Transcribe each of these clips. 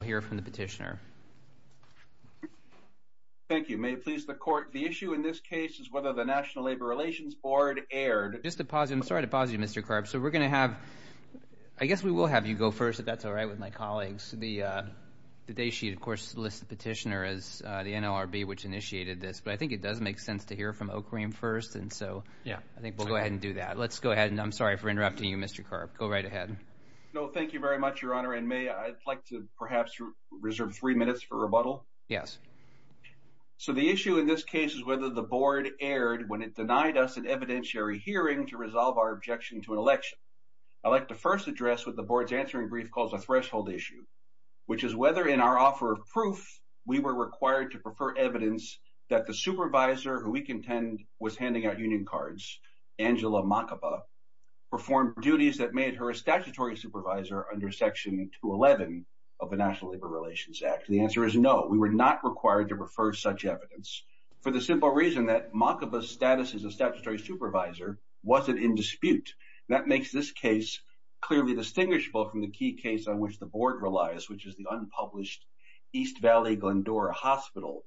Petitioner. Thank you. May it please the court, the issue in this case is whether the National Labor Relations Board erred. Just a positive, I'm sorry to pause you Mr. Carp, so we're gonna have, I guess we will have you go first if that's all right with my colleagues. The the day sheet of course lists the petitioner as the NLRB which initiated this, but I think it does make sense to hear from Oakrheem first and so yeah I think we'll go ahead and do that. Let's go ahead and I'm sorry for interrupting you Mr. Carp, go right ahead. No, thank you very much your honor and may I'd like to perhaps reserve three minutes for rebuttal? Yes. So the issue in this case is whether the board erred when it denied us an evidentiary hearing to resolve our objection to an election. I'd like to first address what the board's answering brief calls a threshold issue, which is whether in our offer of proof we were required to prefer evidence that the supervisor who we contend was handing out union cards, Angela Makaba, performed duties that made her a statutory supervisor under section 211 of the National Labor Relations Act. The answer is no, we were not required to refer such evidence for the simple reason that Makaba's status as a statutory supervisor wasn't in dispute. That makes this case clearly distinguishable from the key case on which the board relies, which is the unpublished East Valley Glendora Hospital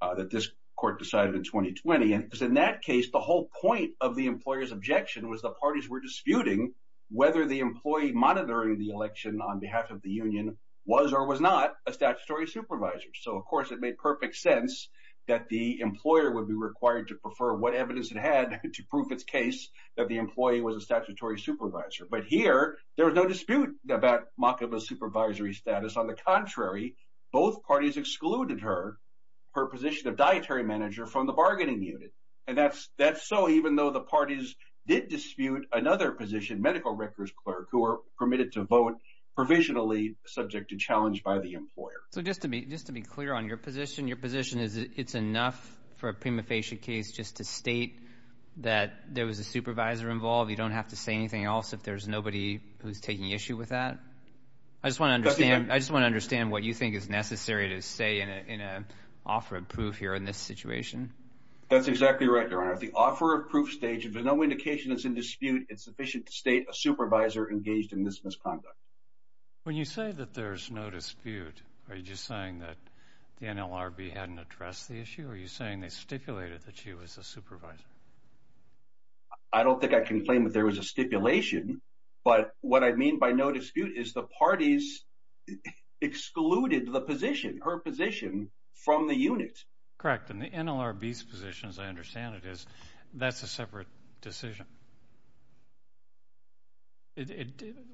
that this court decided in 2020 and in that case the whole point of the employer's objection was the parties were disputing whether the employee monitoring the election on behalf of the union was or was not a statutory supervisor. So of course it made perfect sense that the employer would be required to prefer what evidence it had to prove its case that the employee was a statutory supervisor. But here there was no dispute about Makaba's supervisory status. On the contrary, both parties excluded her, her even though the parties did dispute another position, medical records clerk who were permitted to vote provisionally subject to challenge by the employer. So just to be just to be clear on your position, your position is it's enough for a prima facie case just to state that there was a supervisor involved, you don't have to say anything else if there's nobody who's taking issue with that? I just want to understand, I just want to understand what you think is necessary to say in an offer of proof here in this situation. That's exactly right, Your Honor. At the offer of proof stage, if there's no indication it's in dispute, it's sufficient to state a supervisor engaged in this misconduct. When you say that there's no dispute, are you just saying that the NLRB hadn't addressed the issue? Are you saying they stipulated that she was a supervisor? I don't think I can claim that there was a stipulation, but what I mean by no dispute is the parties excluded the position, her position, from the unit. Correct, and the NLRB's position, as I understand it, is that's a separate decision.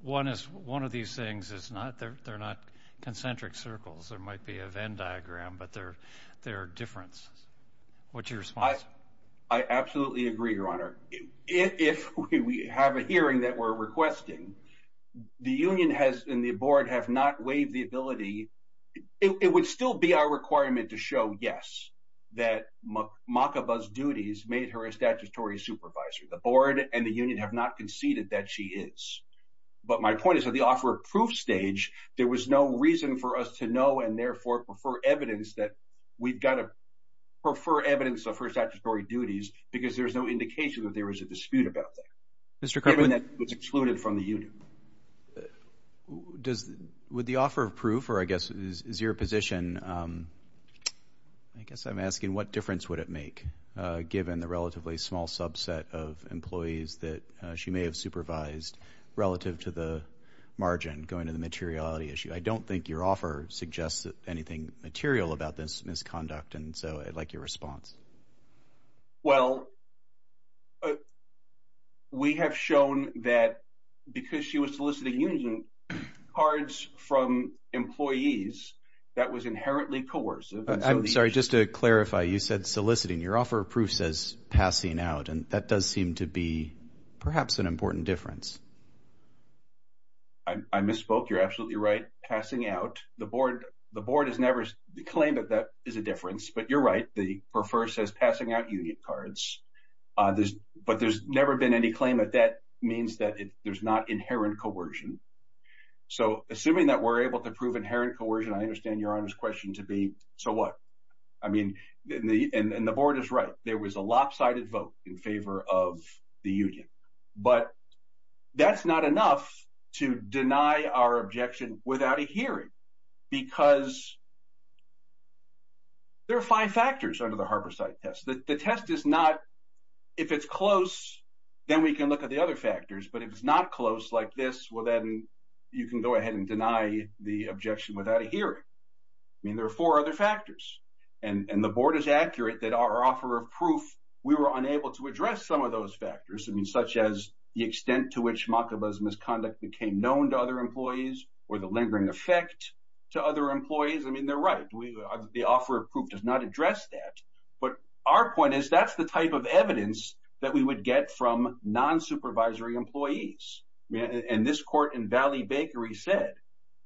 One of these things is not, they're not concentric circles, there might be a Venn diagram, but they're different. What's your response? I absolutely agree, Your Honor. If we have a hearing that we're requesting, the union and the board have not waived the ability, it would still be our requirement to show, yes, that Makaba's duties made her a statutory supervisor. The board and the union have not conceded that she is, but my point is that the offer of proof stage, there was no reason for us to know and therefore prefer evidence that we've got to prefer evidence of her statutory duties, because there's no indication that there was a dispute about that. Mr. Kirkland? That was excluded from the union. Does, would the offer of proof, or I guess is your position, I guess I'm asking what difference would it make given the relatively small subset of employees that she may have supervised relative to the margin going to the materiality issue? I don't think your offer suggests anything material about this issue of soliciting union cards from employees. That was inherently coercive. I'm sorry, just to clarify, you said soliciting. Your offer of proof says passing out, and that does seem to be perhaps an important difference. I misspoke. You're absolutely right. Passing out. The board, the board has never claimed that that is a difference, but you're right. They prefer, says passing out union cards. But there's never been any claim that that means that there's not inherent coercion. So, assuming that we're able to prove inherent coercion, I understand your Honor's question to be, so what? I mean, and the board is right. There was a lopsided vote in favor of the union. But that's not enough to deny our objection without a hearing, because there are five factors under the Harper site test. The test is not, if it's not close like this, well, then you can go ahead and deny the objection without a hearing. I mean, there are four other factors, and the board is accurate that our offer of proof. We were unable to address some of those factors, such as the extent to which Machaba's misconduct became known to other employees or the lingering effect to other employees. I mean, they're right. The offer of proof does not address that. But our point is, that's the type of evidence that we would get from non supervisory employees. And this court in Valley Bakery said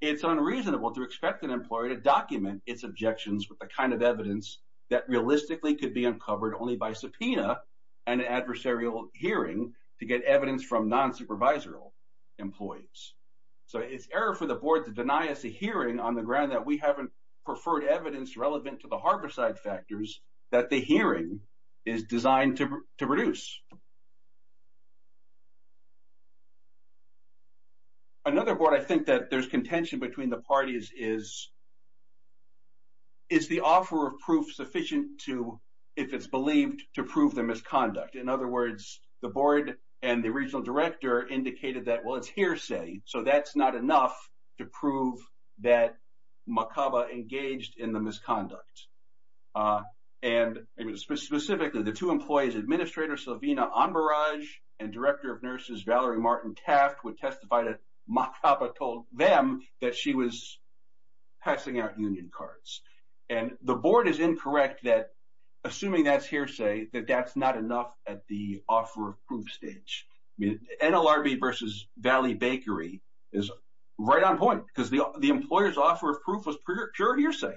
it's unreasonable to expect an employee to document its objections with the kind of evidence that realistically could be uncovered only by subpoena and adversarial hearing to get evidence from non supervisory employees. So it's error for the board to deny us a hearing on the ground that we haven't preferred evidence relevant to the harbor side factors that the hearing is designed to produce. Another board. I think that there's contention between the parties is it's the offer of proof sufficient to if it's believed to prove the misconduct. In other words, the board and the regional director indicated that well, it's hearsay, so that's not enough to prove that Machaba engaged in the misconduct. Uh, and specifically, the two employees, Administrator Savino on barrage and director of nurses, Valerie Martin Taft, would testify to Machaba told them that she was passing out union cards. And the board is incorrect that assuming that's hearsay, that that's not enough at the offer of proof stage. NLRB versus Valley Bakery is right on point because the employer's offer of proof was pure hearsay.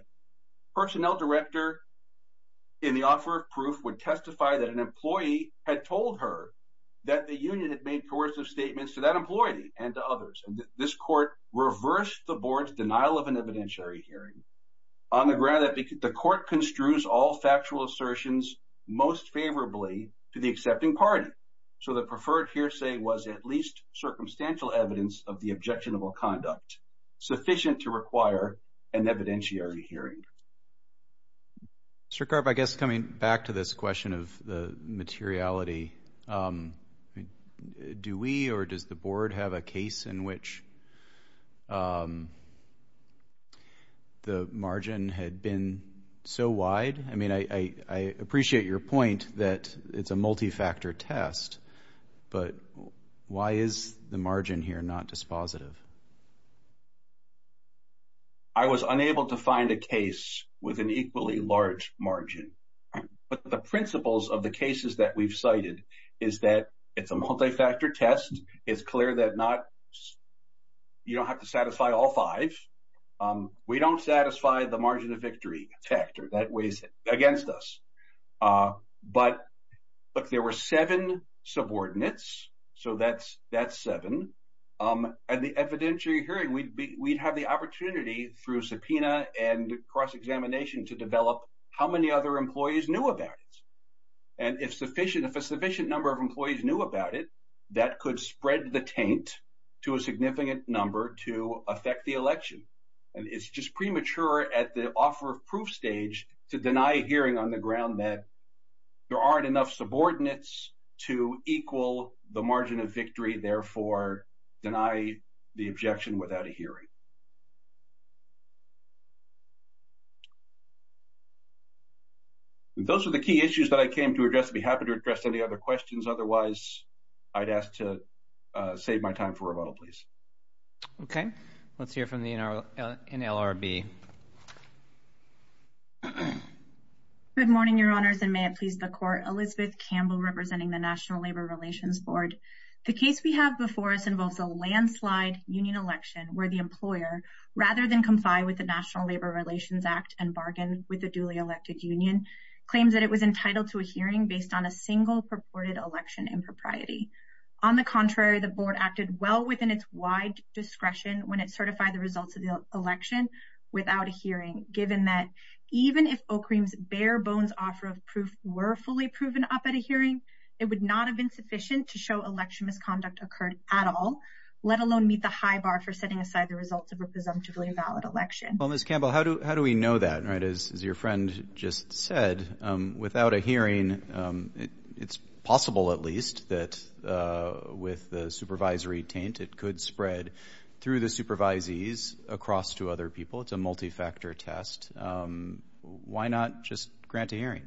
Personnel director in the offer of proof would testify that an employee had told her that the union had made coercive statements to that employee and others. And this court reversed the board's denial of an evidentiary hearing on the ground that the court construes all factual assertions most favorably to the accepting party. So the preferred hearsay was at least circumstantial evidence of the objectionable conduct sufficient to require an evidentiary hearing. Sir, curve, I guess coming back to this question of the materiality. Um, do we or does the board have a case in which, um, the margin had been so wide? I mean, I appreciate your point that it's a margin here, not dispositive. I was unable to find a case with an equally large margin. But the principles of the cases that we've cited is that it's a multi factor test. It's clear that not you don't have to satisfy all five. Um, we don't satisfy the margin of victory factor that weighs against us. Uh, but look, there were seven subordinates. So that's that's seven. Um, and the evidentiary hearing we'd have the opportunity through subpoena and cross examination to develop how many other employees knew about it. And if sufficient, if a sufficient number of employees knew about it, that could spread the taint to a significant number to affect the election. And it's just premature at the offer of proof stage to deny hearing on the ground that there aren't enough subordinates to equal the margin of victory. Therefore, deny the objection without a hearing. Those were the key issues that I came to address. Be happy to address any other questions. Otherwise, I'd asked to save my time for rebuttal, please. Okay, let's hear from the in our in L. R. B. Good morning, Your Honors. And may it please the court. Elizabeth Campbell, representing the National Labor Relations Board. The case we have before us involves a landslide union election where the employer, rather than comply with the National Labor Relations Act and bargain with the duly elected union, claims that it was entitled to a hearing based on a single purported election impropriety. On the contrary, the board acted well within its wide discretion when it certified the results of the election without a hearing. Given that even if oak creams bare bones offer of proof were fully proven up at a hearing, it would not have been sufficient to show election misconduct occurred at all, let alone meet the high bar for setting aside the results of a presumptively valid election. Well, Miss Campbell, how do how do we know that right? Is your friend just said without a hearing? It's possible, at least that with the supervisory taint, it could spread through the supervisees across to other people. It's a multi factor test. Why not just grant a hearing?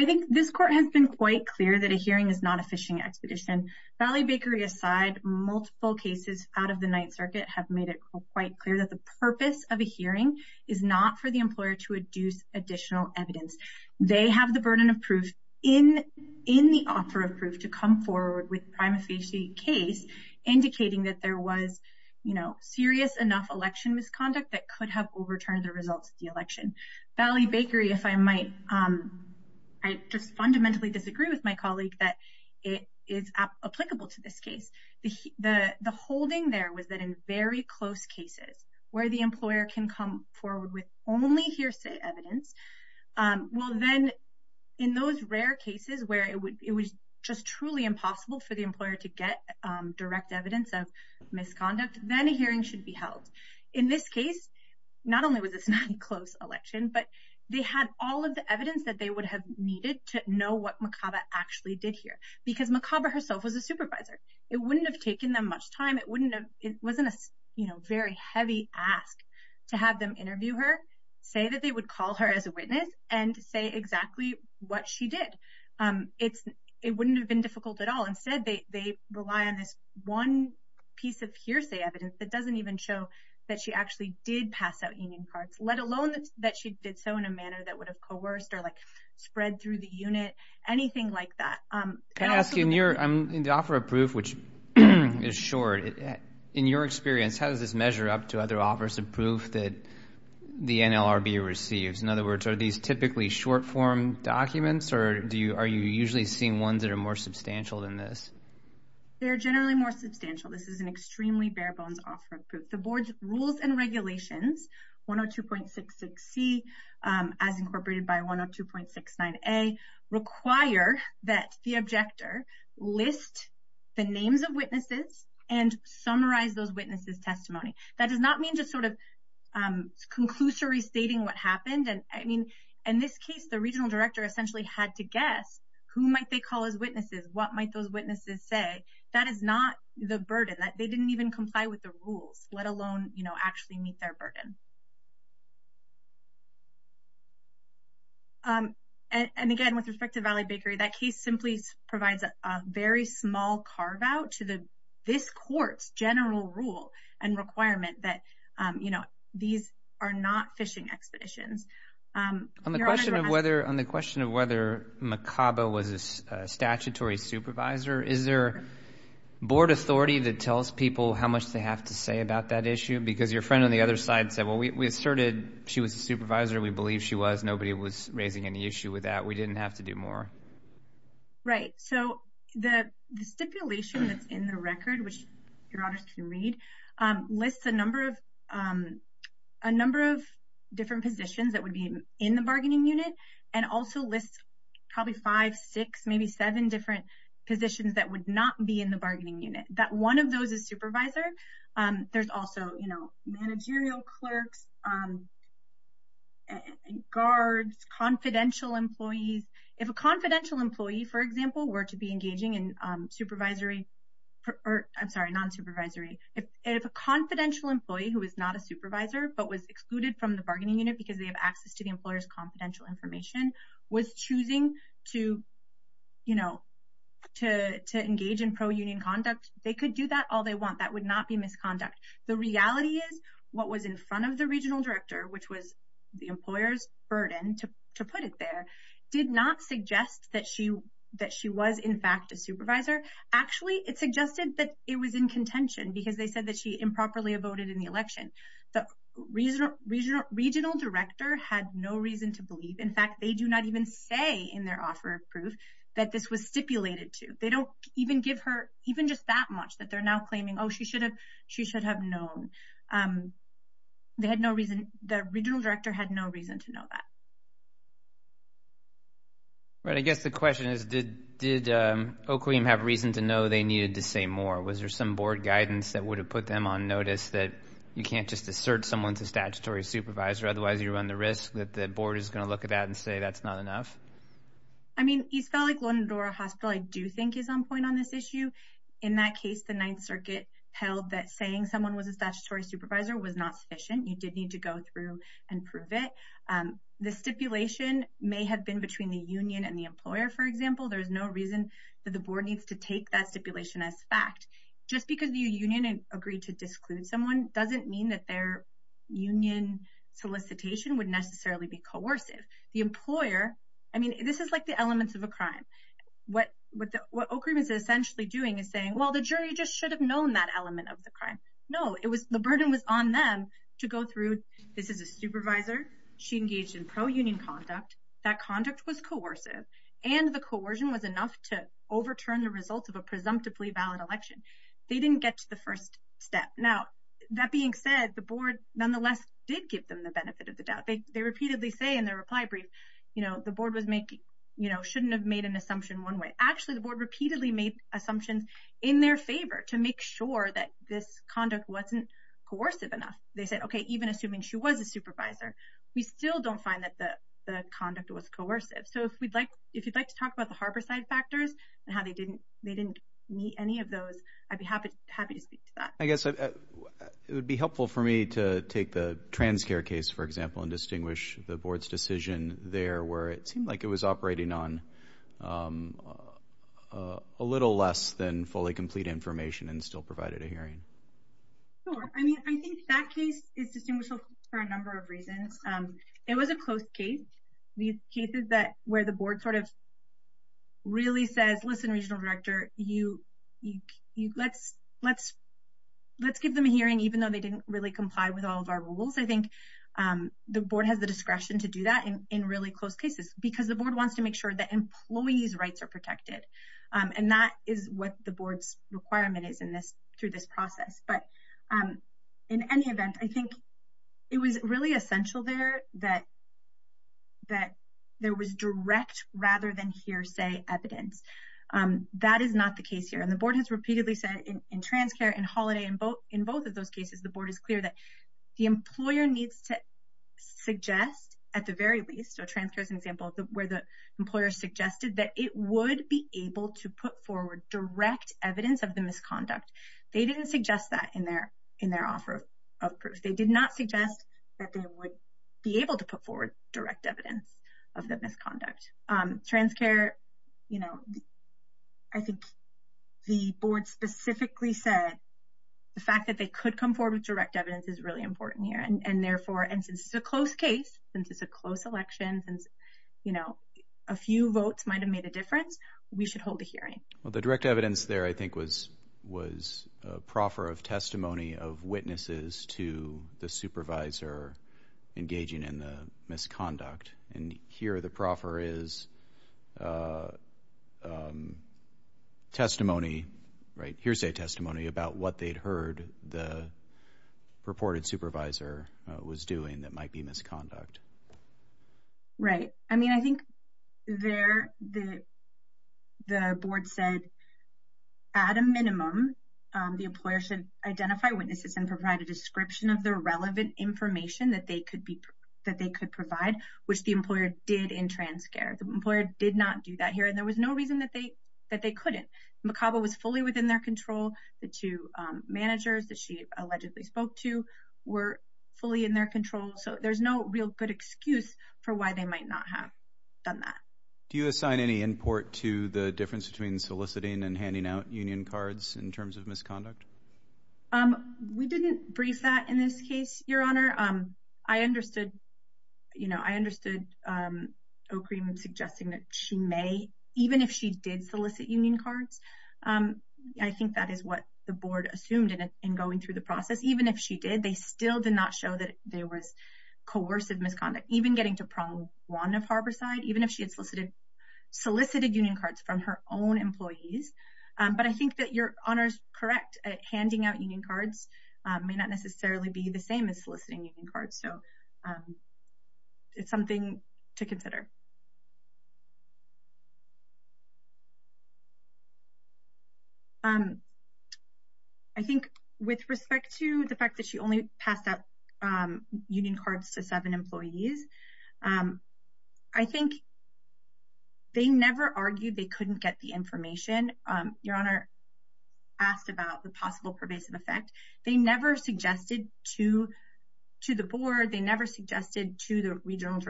I think this court has been quite clear that a hearing is not a fishing expedition. Valley Bakery aside, multiple cases out of the Ninth Circuit have made it quite clear that the purpose of a hearing is not for the employer to reduce additional evidence. They have the burden of proof in in the offer of proof to come forward with prima facie case indicating that there was, you know, serious enough election misconduct that could have overturned the results of the election. Valley Bakery, if I might, I just fundamentally disagree with my colleague that it is applicable to this case. The holding there was that in very close cases where the employer can come forward with only hearsay evidence will then in those rare cases where it was just truly impossible for the employer to get direct evidence of misconduct, then a hearing should be held. In this case, not only was this not a close election, but they had all of the evidence that they would have needed to know what McCava actually did here because McCava herself was a supervisor. It wouldn't have taken them much time. It wouldn't have. It wasn't a very heavy ask to have them interview her, say that they would call her as a witness and say exactly what she did. It wouldn't have been difficult at all. Instead, they rely on this one piece of hearsay evidence that doesn't even show that she actually did pass out union cards, let alone that she did so in a manner that would have coerced or like spread through the unit, anything like that. Can I ask you, in the offer of proof, which is short, in your experience, how does this measure up to other offers of proof that the NLRB receives? In other words, are these typically short form documents or are you usually seeing ones that are more substantial than this? They're generally more substantial. This is an extremely bare bones offer of proof. The board's rules and regulations, 102.66C, as incorporated by 102.69A, require that the objector list the names of witnesses and summarize those witnesses' testimony. That does not mean just sort of conclusory stating what happened. And I mean, in this case, the regional director essentially had to what might those witnesses say. That is not the burden. They didn't even comply with the rules, let alone actually meet their burden. And again, with respect to Valley Bakery, that case simply provides a very small carve out to this court's general rule and requirement that these are not fishing expeditions. On the question of whether Makaba was a statutory supervisor, is there board authority that tells people how much they have to say about that issue? Because your friend on the other side said, well, we asserted she was a supervisor. We believe she was. Nobody was raising any issue with that. We didn't have to do more. Right. So the stipulation that's in the record, which your honors can read, lists a number of different positions that would be in the bargaining unit and also lists probably five, six, maybe seven different positions that would not be in the bargaining unit. That one of those is supervisor. There's also managerial clerks, guards, confidential employees. If a confidential employee, for example, were to be engaging in supervisory or I'm sorry, non supervisory, if a confidential employee who is not a supervisor but was excluded from the bargaining unit because they have access to the employer's confidential information was choosing to, you know, to engage in pro-union conduct, they could do that all they want. That would not be misconduct. The reality is what was in front of the regional director, which was the that she was, in fact, a supervisor. Actually, it suggested that it was in contention because they said that she improperly voted in the election. The regional regional regional director had no reason to believe. In fact, they do not even say in their offer of proof that this was stipulated to. They don't even give her even just that much that they're now claiming, oh, she should have. She should have known. They had no reason. The regional director had no reason to know that. All right. I guess the question is, did did Oakley have reason to know they needed to say more? Was there some board guidance that would have put them on notice that you can't just assert someone's a statutory supervisor? Otherwise, you run the risk that the board is going to look at that and say that's not enough. I mean, East Valley Glendora Hospital, I do think is on point on this issue. In that case, the Ninth Circuit held that saying someone was a statutory supervisor was not sufficient. You did need to go through and prove it. The stipulation may have been between the union and the employer. For example, there is no reason that the board needs to take that stipulation as fact. Just because the union agreed to disclude someone doesn't mean that their union solicitation would necessarily be coercive. The employer I mean, this is like the elements of a crime. What what what Oakley was essentially doing is saying, well, the jury just should have known that element of the crime. No, it supervisor, she engaged in pro-union conduct, that conduct was coercive, and the coercion was enough to overturn the results of a presumptively valid election. They didn't get to the first step. Now, that being said, the board nonetheless did give them the benefit of the doubt. They repeatedly say in their reply brief, you know, the board was making, you know, shouldn't have made an assumption one way. Actually, the board repeatedly made assumptions in their favor to make sure that this conduct wasn't coercive enough. They said, okay, even assuming she was a supervisor, we still don't find that the conduct was coercive. So if we'd like, if you'd like to talk about the harborside factors and how they didn't, they didn't meet any of those, I'd be happy to speak to that. I guess it would be helpful for me to take the Transcare case, for example, and distinguish the board's decision there where it seemed like it was operating on a little less than fully complete information and still provided a hearing. Sure, I mean, I think that case is distinguishable for a number of reasons. It was a close case, these cases that where the board sort of really says, listen, regional director, you, you, you let's, let's, let's give them a hearing, even though they didn't really comply with all of our rules. I think the board has the discretion to do that in really close cases, because the board wants to make sure that employees rights are protected. And that is what the board's requirement is in this, through this process. But in any event, I think it was really essential there that, that there was direct rather than hearsay evidence. That is not the case here. And the board has repeatedly said in Transcare and Holiday, in both, in both of those cases, the board is clear that the employer needs to suggest at the very least, so Transcare is an example where the board could put forward direct evidence of the misconduct. They didn't suggest that in their, in their offer of proof, they did not suggest that they would be able to put forward direct evidence of the misconduct. Transcare, you know, I think the board specifically said, the fact that they could come forward with direct evidence is really important here. And therefore, and since it's a close case, since it's a close election, and, you know, a few votes might have made a difference, we should hold a hearing. Well, the direct evidence there, I think, was, was a proffer of testimony of witnesses to the supervisor engaging in the misconduct. And here the proffer is testimony, right, hearsay testimony about what they'd heard the reported supervisor was doing that might be misconduct. Right. I mean, I think there the, the board said, at a minimum, the employer should identify witnesses and provide a description of the relevant information that they could be, that they could provide, which the employer did in Transcare. The employer did not do that here, and there was no reason that they, that they couldn't. McCabe was fully within their control, the two managers that she allegedly spoke to were fully in their control, so there's no real good excuse for why they might not have done that. Do you assign any import to the difference between soliciting and handing out union cards in terms of misconduct? We didn't brief that in this case, Your Honor. I understood, you know, I understood O'Keefe in suggesting that she may, even if she did solicit union cards, I think that is what the board assumed in going through the process. Even if she did, they still did not show that there was coercive misconduct, even getting to Prong Lawn of Harborside, even if she had solicited, solicited union cards from her own employees. But I think that Your Honor's correct at handing out union cards may not necessarily be the same as soliciting union cards. So it's something to consider. I think with respect to the fact that she only passed out union cards to seven employees, I think they never argued they couldn't get the information. Your Honor asked about the possible pervasive effect. They never suggested to the board, they never suggested to the regional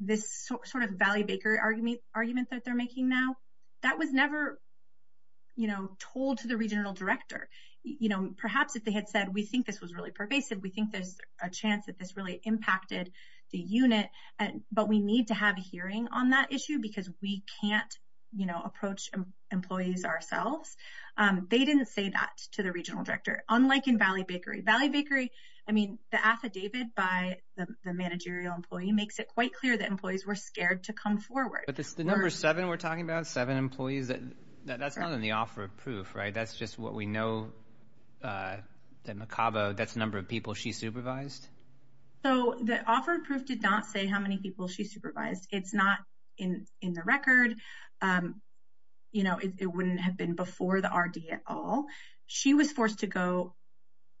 this sort of Valley Bakery argument that they're making now. That was never, you know, told to the regional director, you know, perhaps if they had said, we think this was really pervasive, we think there's a chance that this really impacted the unit. But we need to have a hearing on that issue, because we can't, you know, approach employees ourselves. They didn't say that to the regional director, unlike in Valley Bakery. Valley Bakery, I mean, the affidavit by the managerial employee makes it quite clear that employees were scared to come forward. But the number seven we're talking about, seven employees, that's not in the offer of proof, right? That's just what we know, the macabre, that's number of people she supervised? So the offer of proof did not say how many people she supervised. It's not in the record. You know, it wouldn't have been before the RD at all. She was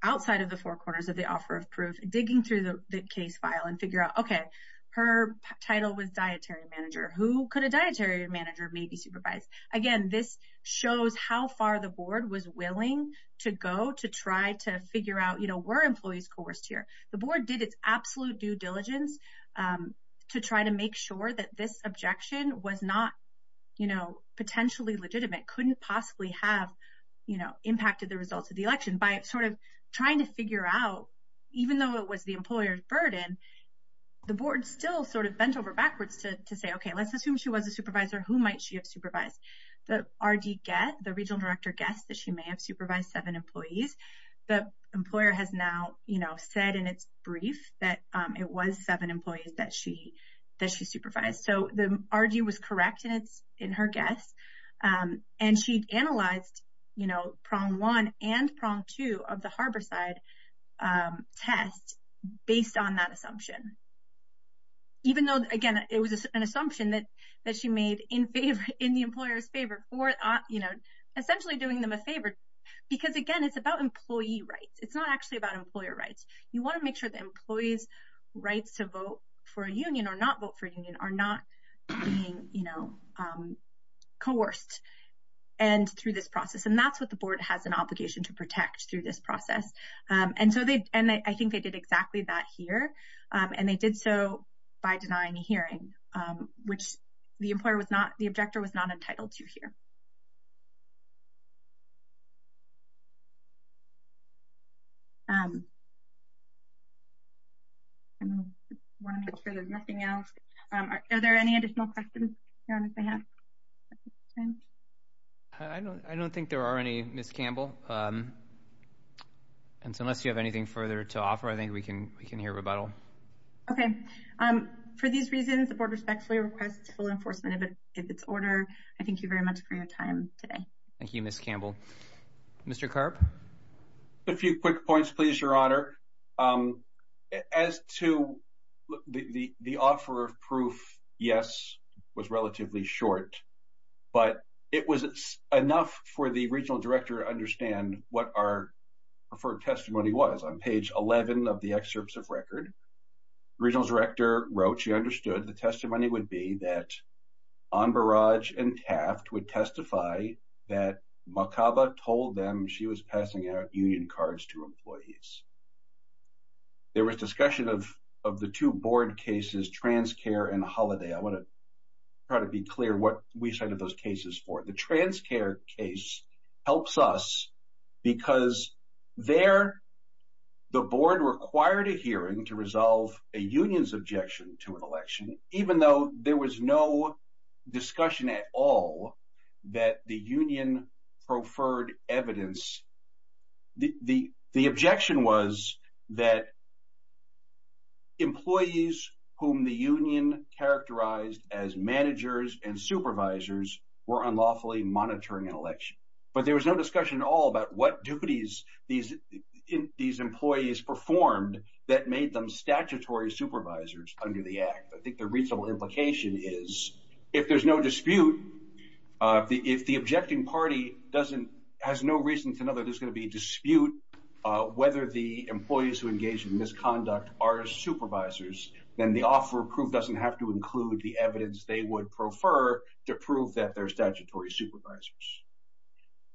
outside of the four corners of the offer of proof, digging through the case file and figure out, okay, her title was dietary manager, who could a dietary manager maybe supervise? Again, this shows how far the board was willing to go to try to figure out, you know, were employees coerced here, the board did its absolute due diligence to try to make sure that this objection was not, you know, potentially legitimate, couldn't possibly have, you know, trying to figure out, even though it was the employer's burden, the board still sort of bent over backwards to say, okay, let's assume she was a supervisor, who might she have supervised? The RD guess, the regional director guess that she may have supervised seven employees. The employer has now, you know, said in its brief that it was seven employees that she, that she supervised. So the RD was correct in her guess. And she analyzed, you know, prong one and prong two of the harborside test based on that assumption. Even though, again, it was an assumption that, that she made in favor in the employer's favor for, you know, essentially doing them a favor. Because again, it's about employee rights, it's not actually about employer rights, you want to make sure that employees rights to vote for a through this process. And that's what the board has an obligation to protect through this process. And so they, and I think they did exactly that here. And they did so by denying a hearing, which the employer was not the objector was not entitled to hear. There's nothing else. Are there any additional questions? Your Honor, if I have I don't I don't think there are any Miss Campbell. And so unless you have anything further to offer, I think we can we can hear rebuttal. Okay. Um, for these reasons, the board respectfully requests full enforcement of its order. I thank you very much for your time today. Thank you, Miss Campbell. Mr. carp. A few quick points, please, Your Honor. Um, as to the offer of proof, yes, was relatively short. But it was enough for the regional director understand what our preferred testimony was on page 11 of the excerpts of record. Regional director wrote, she understood the testimony would be that on barrage and taft would testify that macabre told them she was passing out union cards to employees. There was discussion of of the two board cases, Trans Care and Holiday. I want to try to be clear what we cited those cases for the Trans Care case helps us because there the board required a hearing to resolve a union's objection to an election, even though there was no discussion at all that the evidence the objection was that employees whom the union characterized as managers and supervisors were unlawfully monitoring an election. But there was no discussion at all about what duties these these employees performed that made them statutory supervisors under the act. I think the reasonable implication is if there's no reason to know that there's gonna be dispute whether the employees who engaged in misconduct are supervisors, then the offer of proof doesn't have to include the evidence they would prefer to prove that their statutory supervisors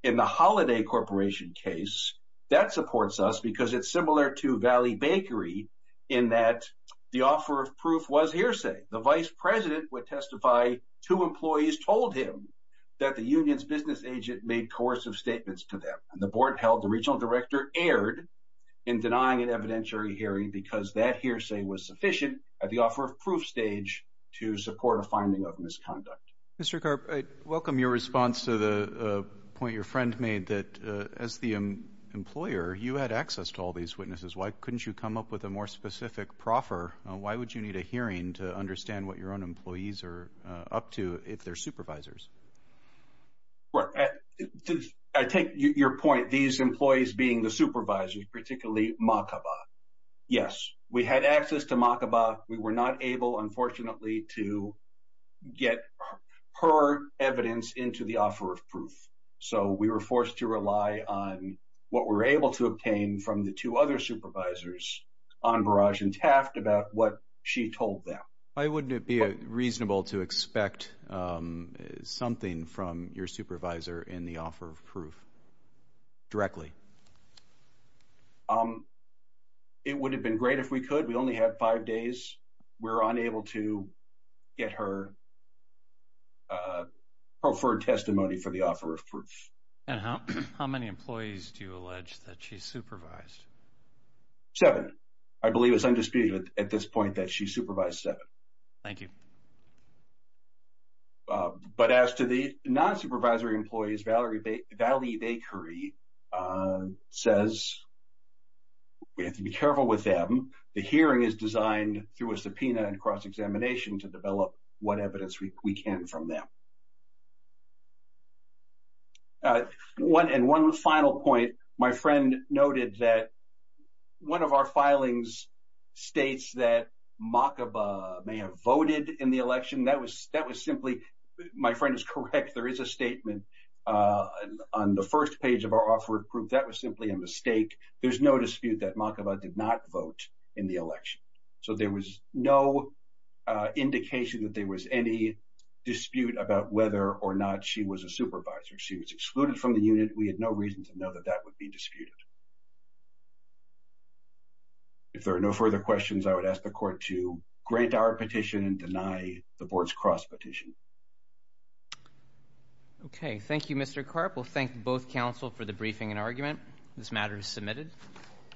in the Holiday Corporation case that supports us because it's similar to Valley Bakery in that the offer of proof was hearsay. The vice president would testify to employees told him that the union's business agent made coercive statements to them, and the board held the regional director erred in denying an evidentiary hearing because that hearsay was sufficient at the offer of proof stage to support a finding of misconduct. Mr Carp, I welcome your response to the point your friend made that as the employer, you had access to all these witnesses. Why couldn't you come up with a more specific proffer? Why would you need a hearing to correct? I take your point. These employees being the supervisors, particularly Makaba. Yes, we had access to Makaba. We were not able, unfortunately, to get her evidence into the offer of proof. So we were forced to rely on what we were able to obtain from the two other supervisors on Barrage and Taft about what she told them. Why wouldn't it be reasonable to expect um, something from your supervisor in the offer of proof directly? Um, it would have been great if we could. We only have five days. We're unable to get her uh, preferred testimony for the offer of proof. And how many employees do you allege that she supervised? Seven. I believe it's undisputed at this point that she supervised seven. Thank you. But as to the non supervisory employees, Valerie Valley Bakery, uh, says we have to be careful with them. The hearing is designed through a subpoena and cross examination to develop what evidence we can from them. Uh, one and one final point. My friend noted that one of our filings states that Makaba may have voted in the election. That was that was simply my friend is correct. There is a statement, uh, on the first page of our offer of proof that was simply a mistake. There's no dispute that Makaba did not vote in the election. So there was no indication that there was any dispute about whether or not she was a supervisor. She was excluded from the unit. We had no reason to know that that would be disputed. Yeah. If there are no further questions, I would ask the court to grant our petition and deny the board's cross petition. Okay. Thank you, Mr Carp. We'll thank both counsel for the briefing and argument. This matter is submitted.